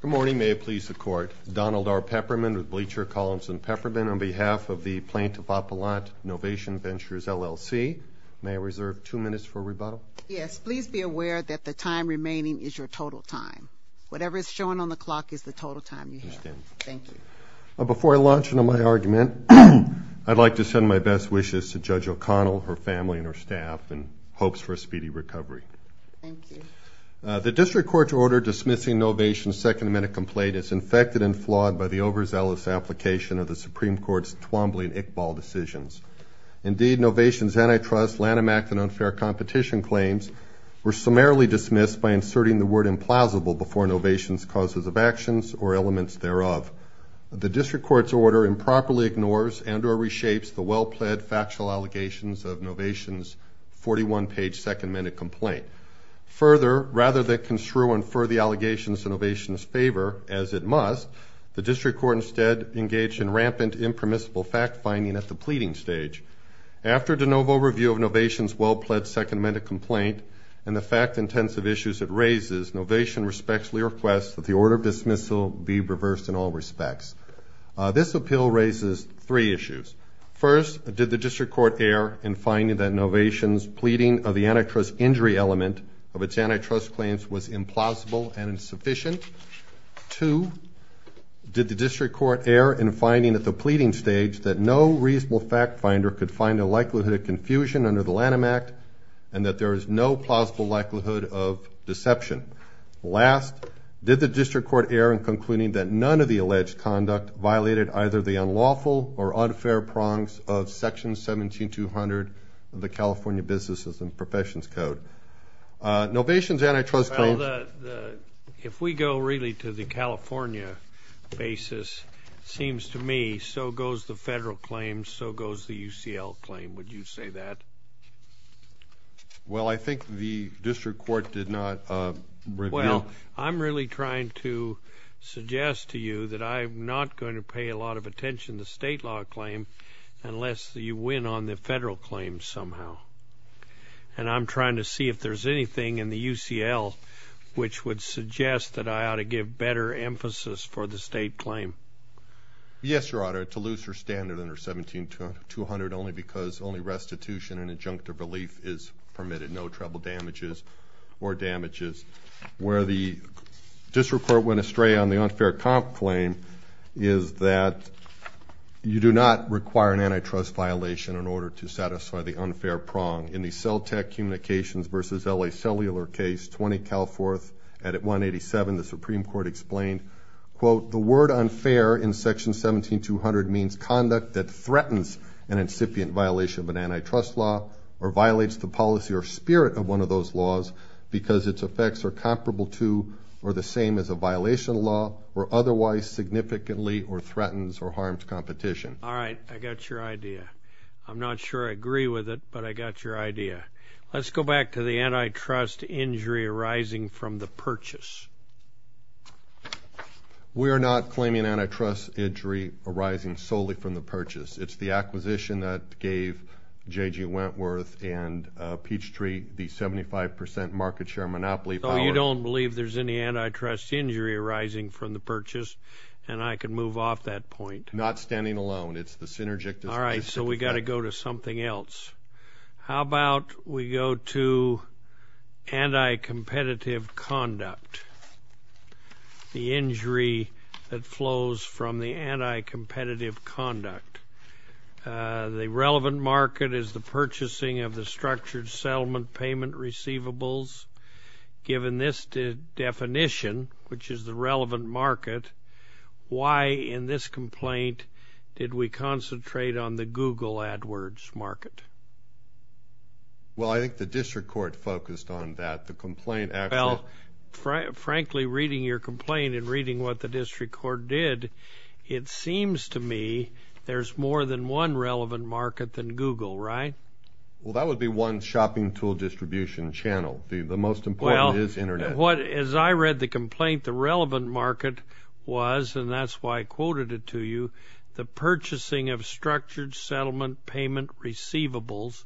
Good morning. May it please the Court. Donald R. Peppermint with Bleacher, Collins & Peppermint on behalf of the Plaintiff Appellant, Novation Ventures, LLC. May I reserve two minutes for rebuttal? Yes. Please be aware that the time remaining is your total time. Whatever is shown on the clock is the total time you have. I understand. Thank you. Before I launch into my argument, I'd like to send my best wishes to Judge O'Connell, her family, and her staff in hopes for a speedy recovery. Thank you. The District Court's order dismissing Novation's second-minute complaint is infected and flawed by the overzealous application of the Supreme Court's twumbling Iqbal decisions. Indeed, Novation's antitrust, Lanham Act, and unfair competition claims were summarily dismissed by inserting the word implausible before Novation's causes of actions or elements thereof. The District Court's order improperly ignores and or reshapes the well-pled factual allegations of Novation's 41-page second-minute complaint. Further, rather than construe and infer the allegations in Novation's favor, as it must, the District Court instead engaged in rampant, impermissible fact-finding at the pleading stage. After de novo review of Novation's well-pledged second-minute complaint and the fact-intensive issues it raises, Novation respectfully requests that the order of dismissal be reversed in all respects. This appeal raises three issues. First, did the District Court err in finding that Novation's pleading of the antitrust injury element of its antitrust claims was implausible and insufficient? Two, did the District Court err in finding at the pleading stage that no reasonable fact-finder could find a likelihood of confusion under the Lanham Act and that there is no plausible likelihood of deception? Last, did the District Court err in concluding that none of the alleged conduct violated either the unlawful or unfair prongs of Section 17-200 of the California Businesses and Professions Code? Novation's antitrust claims. Well, if we go really to the California basis, it seems to me so goes the federal claims, so goes the UCL claim. Would you say that? Well, I think the District Court did not reveal. Well, I'm really trying to suggest to you that I'm not going to pay a lot of attention to the state law claim unless you win on the federal claims somehow, and I'm trying to see if there's anything in the UCL which would suggest that I ought to give better emphasis for the state claim. Yes, Your Honor, to lose her standard under 17-200 only because only restitution and injunctive relief is permitted, no treble damages or damages. Where the District Court went astray on the unfair comp claim is that you do not require an antitrust violation in order to satisfy the unfair prong. In the Cell Tech Communications v. L.A. Cellular case, 20 Calforth at 187, the Supreme Court explained, quote, the word unfair in Section 17-200 means conduct that threatens an incipient violation of an antitrust law or violates the policy or spirit of one of those laws because its effects are comparable to or the same as a violation of law or otherwise significantly or threatens or harms competition. All right, I got your idea. I'm not sure I agree with it, but I got your idea. Let's go back to the antitrust injury arising from the purchase. We are not claiming antitrust injury arising solely from the purchase. It's the acquisition that gave J.G. Wentworth and Peachtree the 75 percent market share monopoly power. So you don't believe there's any antitrust injury arising from the purchase, and I can move off that point. Not standing alone. It's the synergic dispute. All right, so we got to go to something else. How about we go to anti-competitive conduct, the injury that flows from the anti-competitive conduct? The relevant market is the purchasing of the structured settlement payment receivables. Given this definition, which is the relevant market, why in this complaint did we concentrate on the Google AdWords market? Well, I think the district court focused on that. The complaint actually – Well, frankly, reading your complaint and reading what the district court did, it seems to me there's more than one relevant market than Google, right? Well, that would be one shopping tool distribution channel. The most important is Internet. Well, as I read the complaint, the relevant market was, and that's why I quoted it to you, the purchasing of structured settlement payment receivables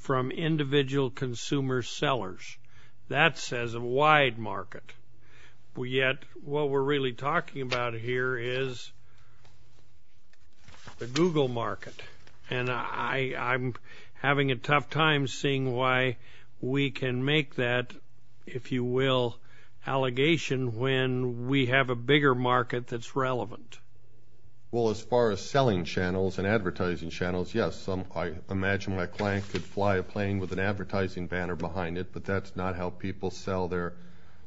from individual consumer sellers. That says a wide market. Yet what we're really talking about here is the Google market. And I'm having a tough time seeing why we can make that, if you will, allegation when we have a bigger market that's relevant. Well, as far as selling channels and advertising channels, yes, I imagine my client could fly a plane with an advertising banner behind it, but that's not how people sell their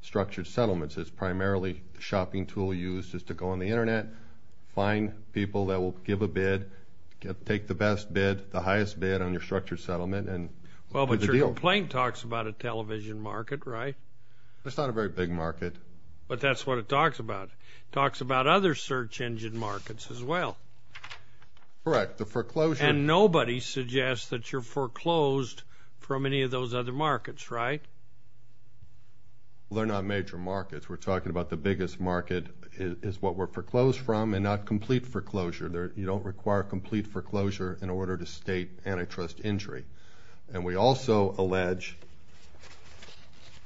structured settlements. It's primarily a shopping tool used just to go on the Internet, find people that will give a bid, take the best bid, the highest bid on your structured settlement and put the deal. Well, but your complaint talks about a television market, right? It's not a very big market. But that's what it talks about. It talks about other search engine markets as well. Correct. The foreclosure. And nobody suggests that you're foreclosed from any of those other markets, right? Well, they're not major markets. We're talking about the biggest market is what we're foreclosed from and not complete foreclosure. You don't require complete foreclosure in order to state antitrust injury. And we also allege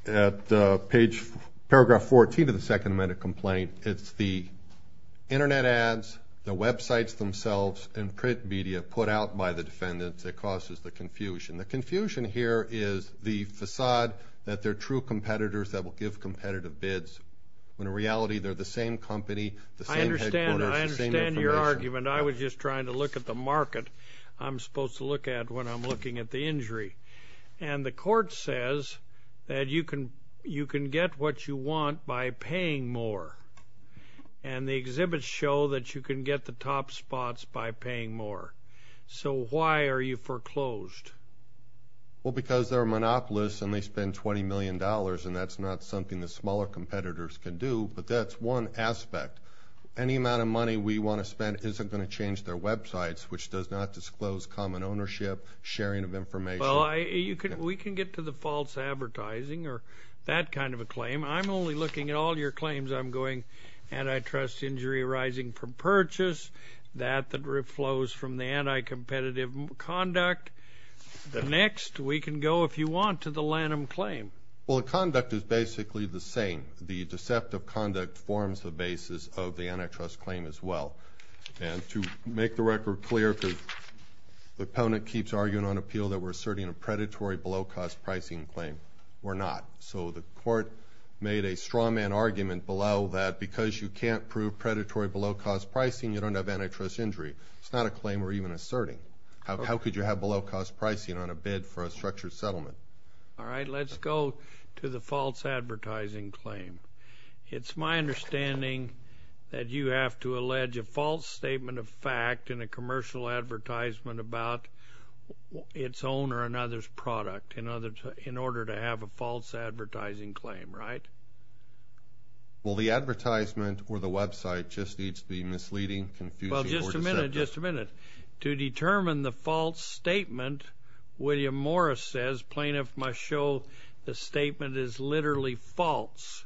at paragraph 14 of the second amendment complaint, it's the Internet ads, the websites themselves, and print media put out by the defendants that causes the confusion. The confusion here is the facade that they're true competitors that will give competitive bids, when in reality they're the same company, the same headquarters, the same information. I was just trying to look at the market I'm supposed to look at when I'm looking at the injury. And the court says that you can get what you want by paying more. And the exhibits show that you can get the top spots by paying more. So why are you foreclosed? Well, because they're monopolists and they spend $20 million, and that's not something the smaller competitors can do. But that's one aspect. Any amount of money we want to spend isn't going to change their websites, which does not disclose common ownership, sharing of information. Well, we can get to the false advertising or that kind of a claim. I'm only looking at all your claims. I'm going antitrust injury arising from purchase, that that flows from the anticompetitive conduct. Next, we can go, if you want, to the Lanham claim. Well, the conduct is basically the same. The deceptive conduct forms the basis of the antitrust claim as well. And to make the record clear, because the opponent keeps arguing on appeal that we're asserting a predatory below-cost pricing claim. We're not. So the court made a strawman argument below that because you can't prove predatory below-cost pricing, you don't have antitrust injury. It's not a claim we're even asserting. How could you have below-cost pricing on a bid for a structured settlement? All right. Let's go to the false advertising claim. It's my understanding that you have to allege a false statement of fact in a commercial advertisement about its owner and others' product in order to have a false advertising claim, right? Well, the advertisement or the website just needs to be misleading, confusing, or deceptive. Well, just a minute, just a minute. To determine the false statement, William Morris says plaintiff must show the statement is literally false,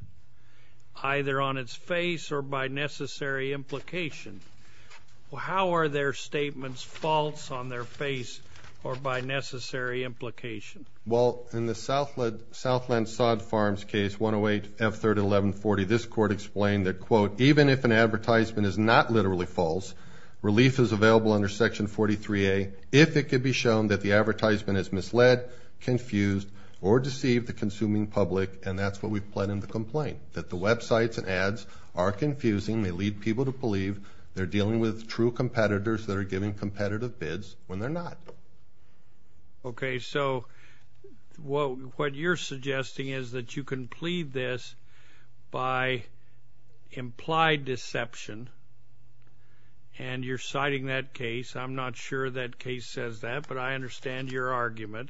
either on its face or by necessary implication. Well, how are their statements false on their face or by necessary implication? Well, in the Southland Sod Farms case, 108F31140, this court explained that, quote, this was available under Section 43A if it could be shown that the advertisement is misled, confused, or deceived the consuming public, and that's what we've pled in the complaint, that the websites and ads are confusing. They lead people to believe they're dealing with true competitors that are giving competitive bids when they're not. Okay, so what you're suggesting is that you can plead this by implied deception and you're citing that case. I'm not sure that case says that, but I understand your argument.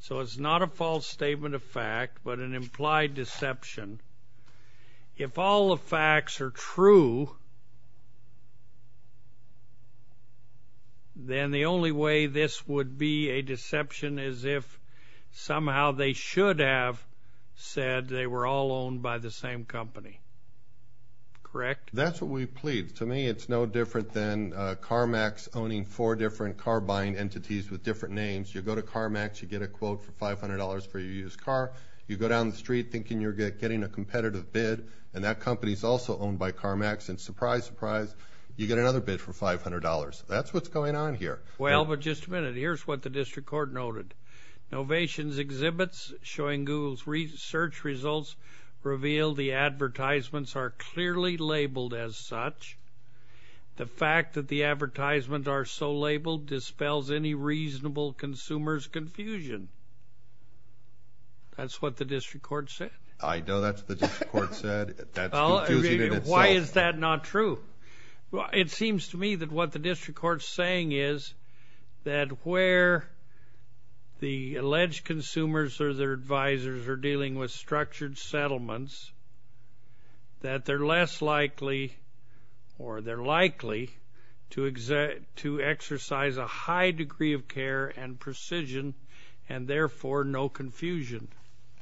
So it's not a false statement of fact, but an implied deception. If all the facts are true, then the only way this would be a deception is if somehow they should have said they were all owned by the same company, correct? That's what we plead. To me, it's no different than CarMax owning four different car-buying entities with different names. You go to CarMax, you get a quote for $500 for your used car. You go down the street thinking you're getting a competitive bid, and that company is also owned by CarMax, and surprise, surprise, you get another bid for $500. That's what's going on here. Well, but just a minute. Here's what the district court noted. Novation's exhibits showing Google's search results reveal the advertisements are clearly labeled as such. The fact that the advertisements are so labeled dispels any reasonable consumer's confusion. That's what the district court said. I know that's what the district court said. That's confusing in itself. Why is that not true? Well, it seems to me that what the district court's saying is that where the alleged consumers or their advisors are dealing with structured settlements, that they're less likely or they're likely to exercise a high degree of care and precision and, therefore, no confusion.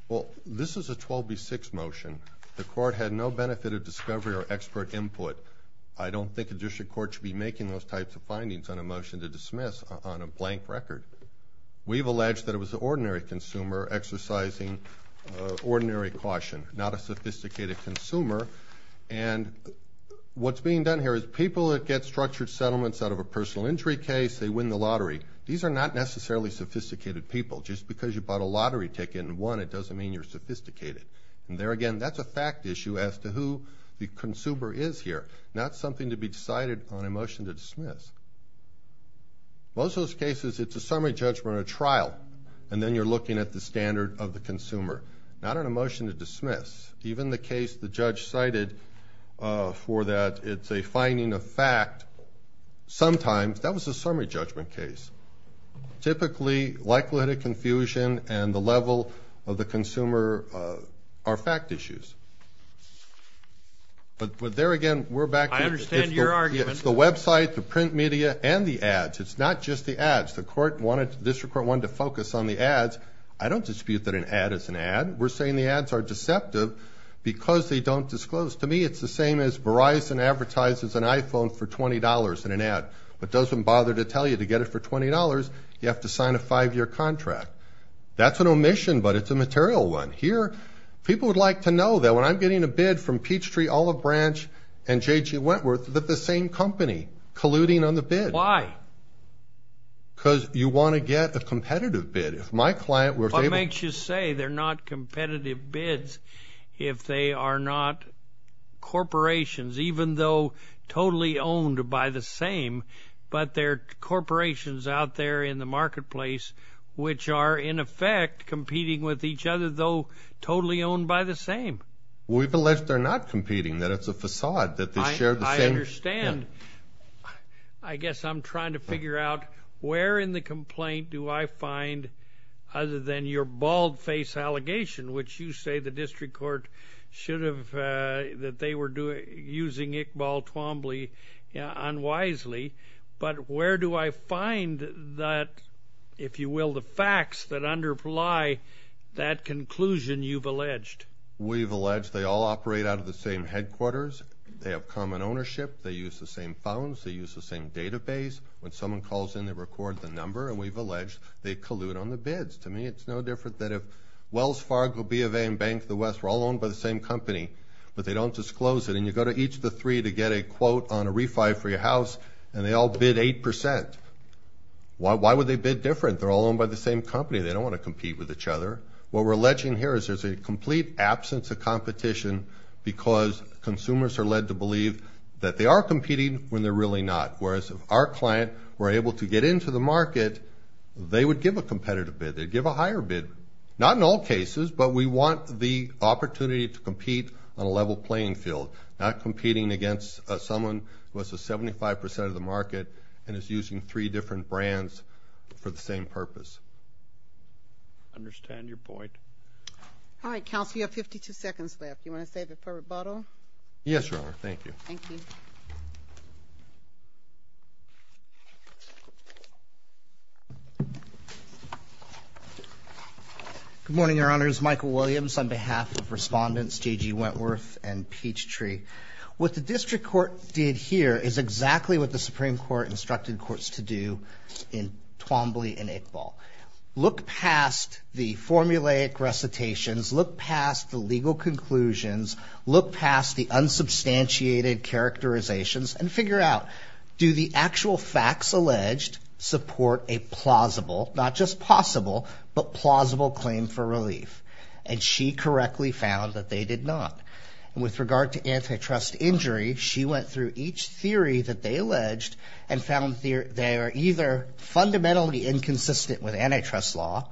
Well, this is a 12B6 motion. The court had no benefit of discovery or expert input. I don't think a district court should be making those types of findings on a motion to dismiss on a blank record. We've alleged that it was an ordinary consumer exercising ordinary caution, not a sophisticated consumer. And what's being done here is people that get structured settlements out of a personal injury case, they win the lottery. These are not necessarily sophisticated people. Just because you bought a lottery ticket and won, it doesn't mean you're sophisticated. And there again, that's a fact issue as to who the consumer is here, not something to be decided on a motion to dismiss. Most of those cases, it's a summary judgment or trial, and then you're looking at the standard of the consumer, not on a motion to dismiss. Even the case the judge cited for that, it's a finding of fact. Sometimes, that was a summary judgment case. Typically, likelihood of confusion and the level of the consumer are fact issues. But there again, we're back to the website, the print media, and the ads. It's not just the ads. The district court wanted to focus on the ads. I don't dispute that an ad is an ad. We're saying the ads are deceptive because they don't disclose. To me, it's the same as Verizon advertises an iPhone for $20 in an ad, but doesn't bother to tell you to get it for $20, you have to sign a five-year contract. That's an omission, but it's a material one. Here, people would like to know that when I'm getting a bid from Peachtree, Olive Branch, and JG Wentworth, that the same company colluding on the bid. Why? Because you want to get a competitive bid. If my client were able to – What makes you say they're not competitive bids if they are not corporations, even though totally owned by the same, but they're corporations out there in the marketplace, which are, in effect, competing with each other, though totally owned by the same? We believe they're not competing, that it's a facade, that they share the same – I understand. I guess I'm trying to figure out where in the complaint do I find, other than your bald-faced allegation, which you say the district court should have – that they were using Iqbal Twombly unwisely, but where do I find that, if you will, the facts that underlie that conclusion you've alleged? We've alleged they all operate out of the same headquarters. They have common ownership. They use the same phones. They use the same database. When someone calls in, they record the number, and we've alleged they collude on the bids. To me, it's no different than if Wells Fargo, B of A, and Bank of the West were all owned by the same company, but they don't disclose it, and you go to each of the three to get a quote on a refi for your house, and they all bid 8%. Why would they bid different? They're all owned by the same company. They don't want to compete with each other. What we're alleging here is there's a complete absence of competition because consumers are led to believe that they are competing when they're really not, whereas if our client were able to get into the market, they would give a competitive bid. They'd give a higher bid. Not in all cases, but we want the opportunity to compete on a level playing field, not competing against someone who has a 75% of the market and is using three different brands for the same purpose. I understand your point. All right, counsel, you have 52 seconds left. Do you want to save it for rebuttal? Yes, Your Honor. Thank you. Thank you. Good morning, Your Honors. Michael Williams on behalf of Respondents J.G. Wentworth and Peachtree. What the district court did here is exactly what the Supreme Court instructed courts to do in Twombly and Iqbal. Look past the formulaic recitations, look past the legal conclusions, look past the unsubstantiated characterizations, and figure out, do the actual facts alleged support a plausible, not just possible, but plausible claim for relief? And she correctly found that they did not. With regard to antitrust injury, she went through each theory that they alleged and found they are either fundamentally inconsistent with antitrust law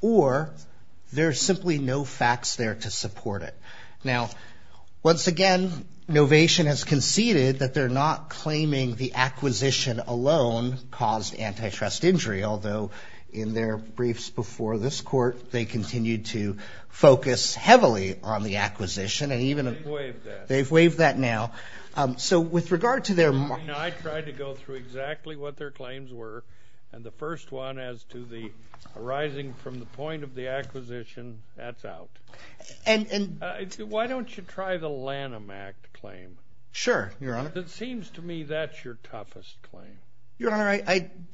or there are simply no facts there to support it. Now, once again, Novation has conceded that they're not claiming the acquisition alone caused antitrust injury, although in their briefs before this court, they continued to focus heavily on the acquisition. They've waived that. They've waived that now. So with regard to their mark. I tried to go through exactly what their claims were, and the first one as to the arising from the point of the acquisition, that's out. Why don't you try the Lanham Act claim? Sure, Your Honor. It seems to me that's your toughest claim. Your Honor,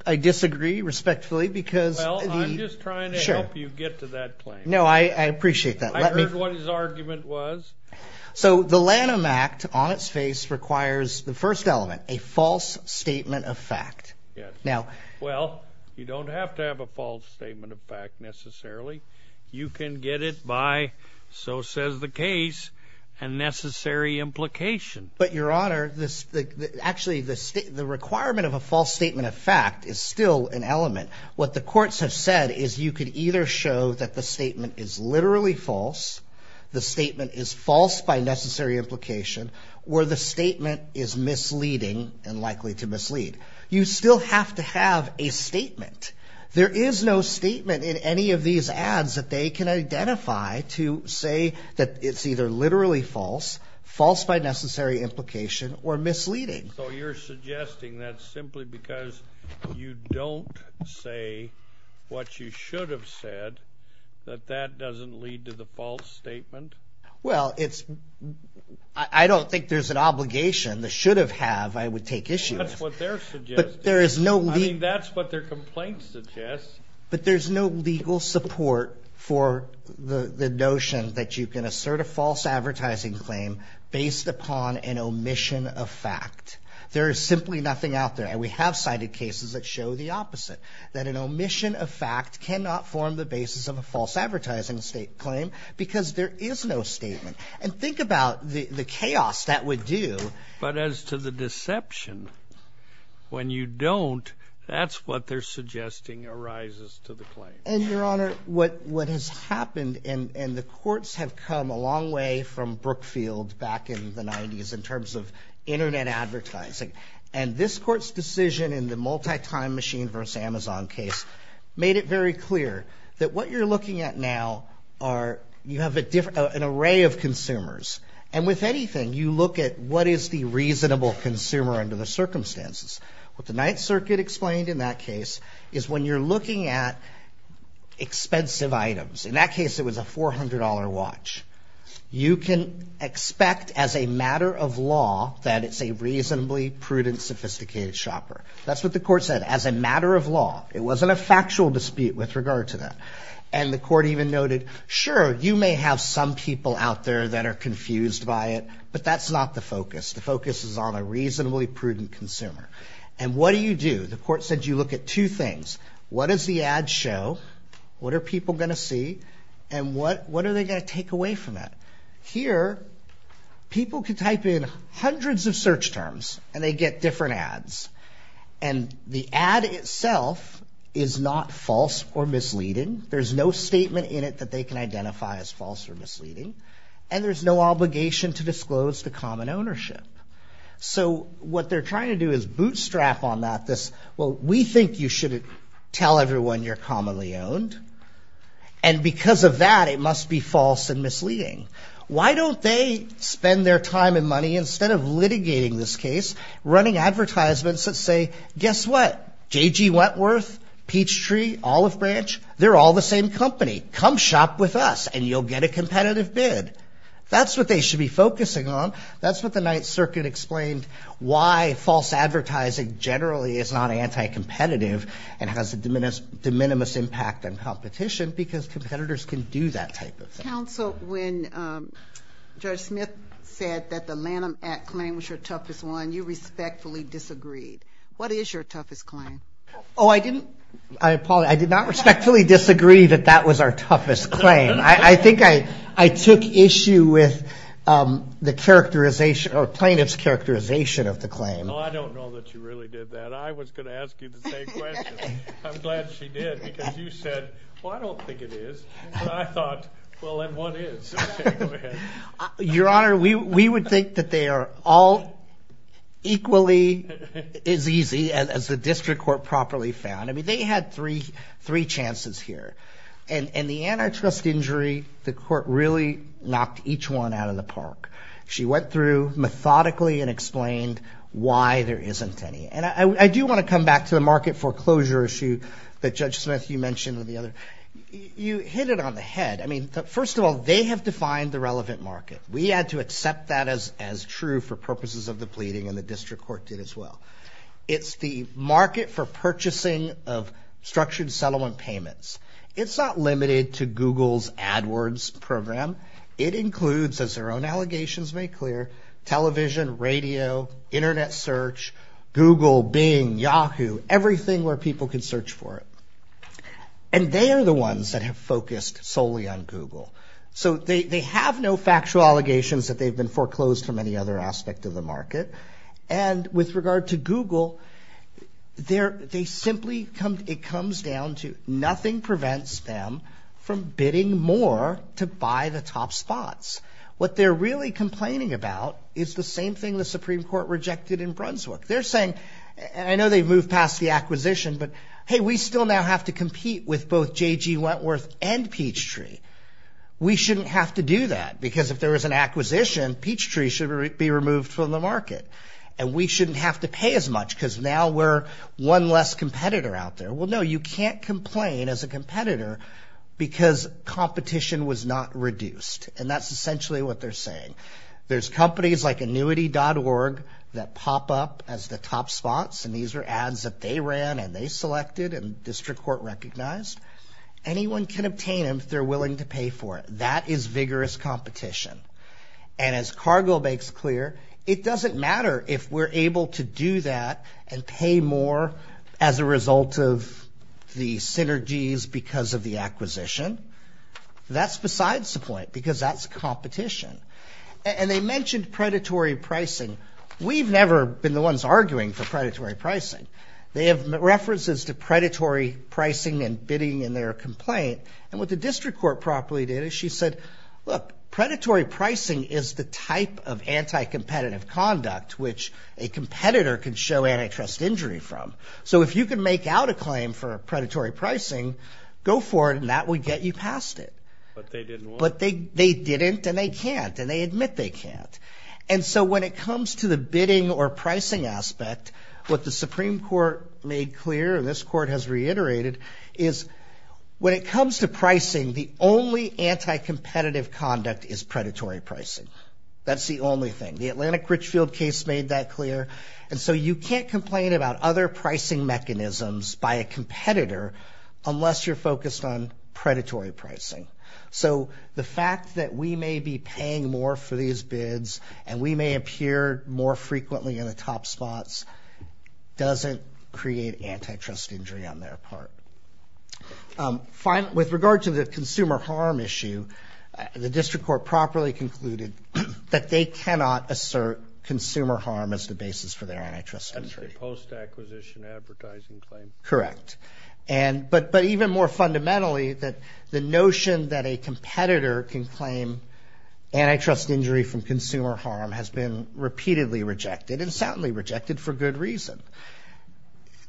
I disagree respectfully because the Well, I'm just trying to help you get to that claim. No, I appreciate that. I heard what his argument was. So the Lanham Act on its face requires the first element, a false statement of fact. Yes. Well, you don't have to have a false statement of fact necessarily. You can get it by, so says the case, a necessary implication. But, Your Honor, actually the requirement of a false statement of fact is still an element. What the courts have said is you could either show that the statement is literally false, the statement is false by necessary implication, or the statement is misleading and likely to mislead. You still have to have a statement. There is no statement in any of these ads that they can identify to say that it's either literally false, false by necessary implication, or misleading. So you're suggesting that's simply because you don't say what you should have said, that that doesn't lead to the false statement? Well, I don't think there's an obligation. The should have have, I would take issue with. That's what they're suggesting. I mean, that's what their complaint suggests. But there's no legal support for the notion that you can assert a false advertising claim based upon an omission of fact. There is simply nothing out there, and we have cited cases that show the opposite, that an omission of fact cannot form the basis of a false advertising claim because there is no statement. And think about the chaos that would do. But as to the deception, when you don't, that's what they're suggesting arises to the claim. And, Your Honor, what has happened, and the courts have come a long way from Brookfield back in the 90s in terms of Internet advertising, and this court's decision in the multi-time machine versus Amazon case made it very clear that what you're looking at now are you have an array of consumers. And with anything, you look at what is the reasonable consumer under the circumstances. What the Ninth Circuit explained in that case is when you're looking at expensive items. In that case, it was a $400 watch. You can expect as a matter of law that it's a reasonably prudent, sophisticated shopper. That's what the court said, as a matter of law. It wasn't a factual dispute with regard to that. And the court even noted, sure, you may have some people out there that are confused by it, but that's not the focus. The focus is on a reasonably prudent consumer. And what do you do? The court said you look at two things. What does the ad show? What are people going to see? And what are they going to take away from that? Here, people can type in hundreds of search terms, and they get different ads. And the ad itself is not false or misleading. There's no statement in it that they can identify as false or misleading. And there's no obligation to disclose to common ownership. So what they're trying to do is bootstrap on that this, well, we think you shouldn't tell everyone you're commonly owned. And because of that, it must be false and misleading. Why don't they spend their time and money, instead of litigating this case, running advertisements that say, guess what? J.G. Wentworth, Peachtree, Olive Branch, they're all the same company. Come shop with us, and you'll get a competitive bid. That's what they should be focusing on. That's what the Ninth Circuit explained, why false advertising generally is not anti-competitive and has a de minimis impact on competition because competitors can do that type of thing. Counsel, when Judge Smith said that the Lanham Act claim was your toughest one, you respectfully disagreed. What is your toughest claim? Oh, I didn't. I apologize. I did not respectfully disagree that that was our toughest claim. I think I took issue with the characterization or plaintiff's characterization of the claim. Oh, I don't know that you really did that. I was going to ask you the same question. I'm glad she did because you said, well, I don't think it is. But I thought, well, then what is? Okay, go ahead. Your Honor, we would think that they are all equally as easy as the district court properly found. I mean, they had three chances here. And the antitrust injury, the court really knocked each one out of the park. She went through methodically and explained why there isn't any. And I do want to come back to the market foreclosure issue that Judge Smith, you mentioned. You hit it on the head. I mean, first of all, they have defined the relevant market. We had to accept that as true for purposes of the pleading, and the district court did as well. It's the market for purchasing of structured settlement payments. It's not limited to Google's AdWords program. It includes, as their own allegations make clear, television, radio, internet search, Google, Bing, Yahoo, everything where people can search for it. And they are the ones that have focused solely on Google. So they have no factual allegations that they've been foreclosed from any other aspect of the market. And with regard to Google, it comes down to nothing prevents them from bidding more to buy the top spots. What they're really complaining about is the same thing the Supreme Court rejected in Brunswick. They're saying, and I know they've moved past the acquisition, but hey, we still now have to compete with both J.G. Wentworth and Peachtree. We shouldn't have to do that because if there was an acquisition, Peachtree should be removed from the market. And we shouldn't have to pay as much because now we're one less competitor out there. Well, no, you can't complain as a competitor because competition was not reduced. And that's essentially what they're saying. There's companies like annuity.org that pop up as the top spots, and these are ads that they ran and they selected and district court recognized. Anyone can obtain them if they're willing to pay for it. That is vigorous competition. And as Cargo makes clear, it doesn't matter if we're able to do that and pay more as a result of the synergies because of the acquisition. That's besides the point because that's competition. And they mentioned predatory pricing. We've never been the ones arguing for predatory pricing. They have references to predatory pricing and bidding in their complaint. And what the district court properly did is she said, look, predatory pricing is the type of anti-competitive conduct which a competitor can show antitrust injury from. So if you can make out a claim for predatory pricing, go for it and that would get you past it. But they didn't and they can't and they admit they can't. And so when it comes to the bidding or pricing aspect, what the Supreme Court made clear, and this court has reiterated, is when it comes to pricing, the only anti-competitive conduct is predatory pricing. That's the only thing. The Atlantic Richfield case made that clear. And so you can't complain about other pricing mechanisms by a competitor unless you're focused on predatory pricing. So the fact that we may be paying more for these bids and we may appear more frequently in the top spots doesn't create antitrust injury on their part. With regard to the consumer harm issue, the district court properly concluded that they cannot assert consumer harm as the basis for their antitrust injury. That's the post-acquisition advertising claim. Correct. But even more fundamentally, the notion that a competitor can claim antitrust injury from consumer harm has been repeatedly rejected and soundly rejected for good reason.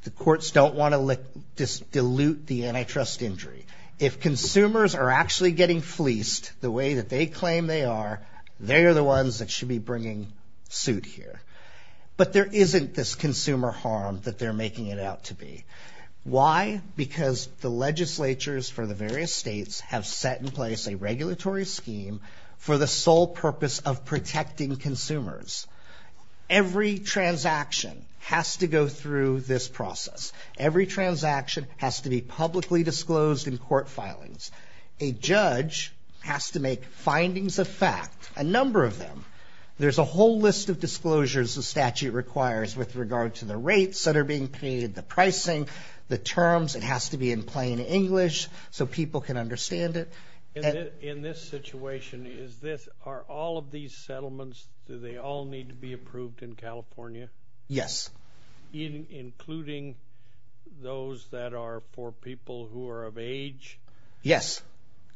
The courts don't want to dilute the antitrust injury. If consumers are actually getting fleeced the way that they claim they are, they are the ones that should be bringing suit here. But there isn't this consumer harm that they're making it out to be. Why? Because the legislatures for the various states have set in place a regulatory scheme for the sole purpose of protecting consumers. Every transaction has to go through this process. Every transaction has to be publicly disclosed in court filings. A judge has to make findings of fact, a number of them. There's a whole list of disclosures the statute requires with regard to the rates that are being paid, the pricing, the terms. It has to be in plain English so people can understand it. In this situation, are all of these settlements, do they all need to be approved in California? Yes. Including those that are for people who are of age? Yes.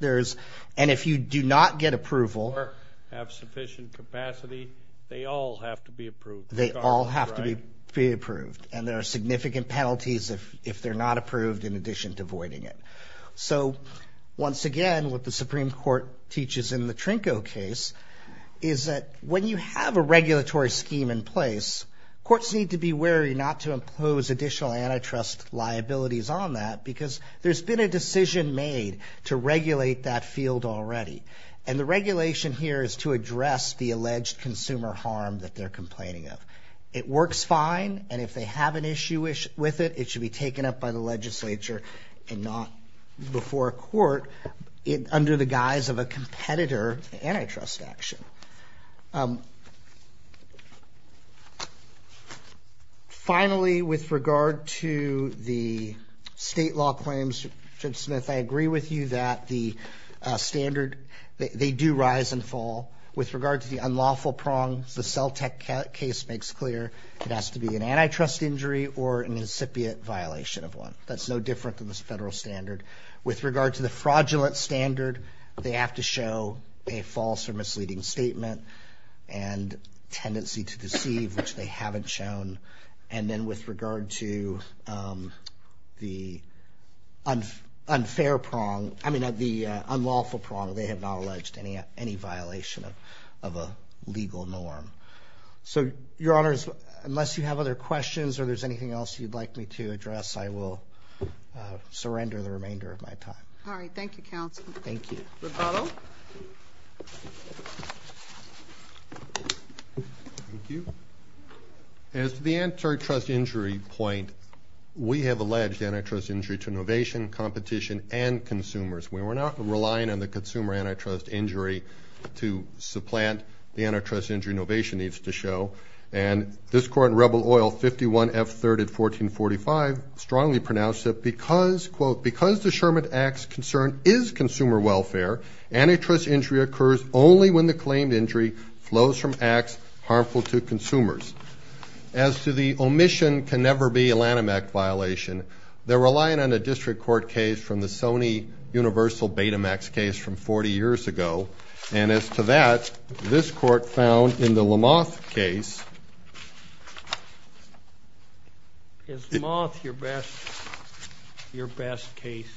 And if you do not get approval or have sufficient capacity, they all have to be approved. They all have to be approved. And there are significant penalties if they're not approved in addition to voiding it. So once again, what the Supreme Court teaches in the Trinco case is that when you have a regulatory scheme in place, courts need to be wary not to impose additional antitrust liabilities on that because there's been a decision made to regulate that field already. And the regulation here is to address the alleged consumer harm that they're complaining of. It works fine, and if they have an issue with it, it should be taken up by the legislature and not before a court under the guise of a competitor antitrust action. Finally, with regard to the state law claims, Judge Smith, I agree with you that the standard, they do rise and fall. With regard to the unlawful prongs, the CELTEC case makes clear it has to be an antitrust injury or an incipient violation of one. That's no different than the federal standard. With regard to the fraudulent standard, they have to show a false or misleading statement and tendency to deceive, which they haven't shown. And then with regard to the unfair prong, I mean the unlawful prong, they have not alleged any violation of a legal norm. So, Your Honors, unless you have other questions or there's anything else you'd like me to address, I will surrender the remainder of my time. All right. Thank you, counsel. Thank you. Rapallo. Thank you. As to the antitrust injury point, we have alleged antitrust injury to innovation, competition, and consumers. We're not relying on the consumer antitrust injury to supplant the antitrust injury innovation needs to show. And this Court in Rebel Oil 51 F. 3rd at 1445 strongly pronounced that because the Sherman Act's concern is consumer welfare, antitrust injury occurs only when the claimed injury flows from acts harmful to consumers. As to the omission can never be a Lanham Act violation, they're relying on a district court case from the Sony Universal Betamax case from 40 years ago. And as to that, this Court found in the Lamothe case. Is Lamothe your best case?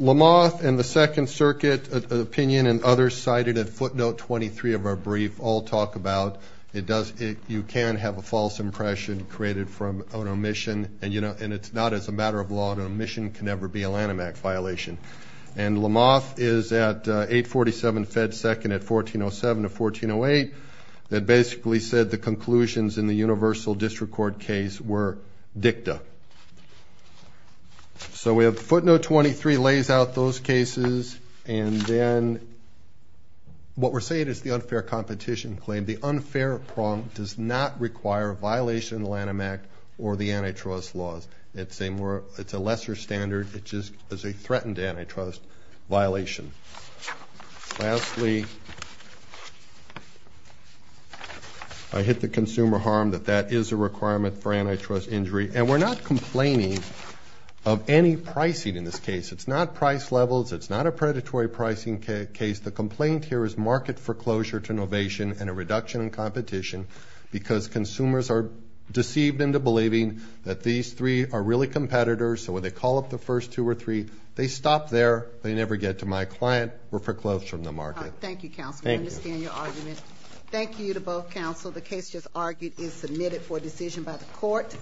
Lamothe and the Second Circuit opinion and others cited at footnote 23 of our brief all talk about, you can have a false impression created from an omission, and it's not as a matter of law an omission can never be a Lanham Act violation. And Lamothe is at 847 F. 2nd at 1407 to 1408 that basically said the conclusions in the Universal District Court case were dicta. So we have footnote 23 lays out those cases, and then what we're saying is the unfair competition claim. The unfair prompt does not require a violation of the Lanham Act or the antitrust laws. It's a lesser standard, it just is a threatened antitrust violation. Lastly, I hit the consumer harm that that is a requirement for antitrust injury. And we're not complaining of any pricing in this case. It's not price levels, it's not a predatory pricing case. The complaint here is market foreclosure to innovation and a reduction in competition because consumers are deceived into believing that these three are really competitors, so when they call up the first two or three, they stop there, they never get to my client. We're foreclosed from the market. Thank you, counsel. I understand your argument. Thank you to both counsel. The case just argued is submitted for decision by the court.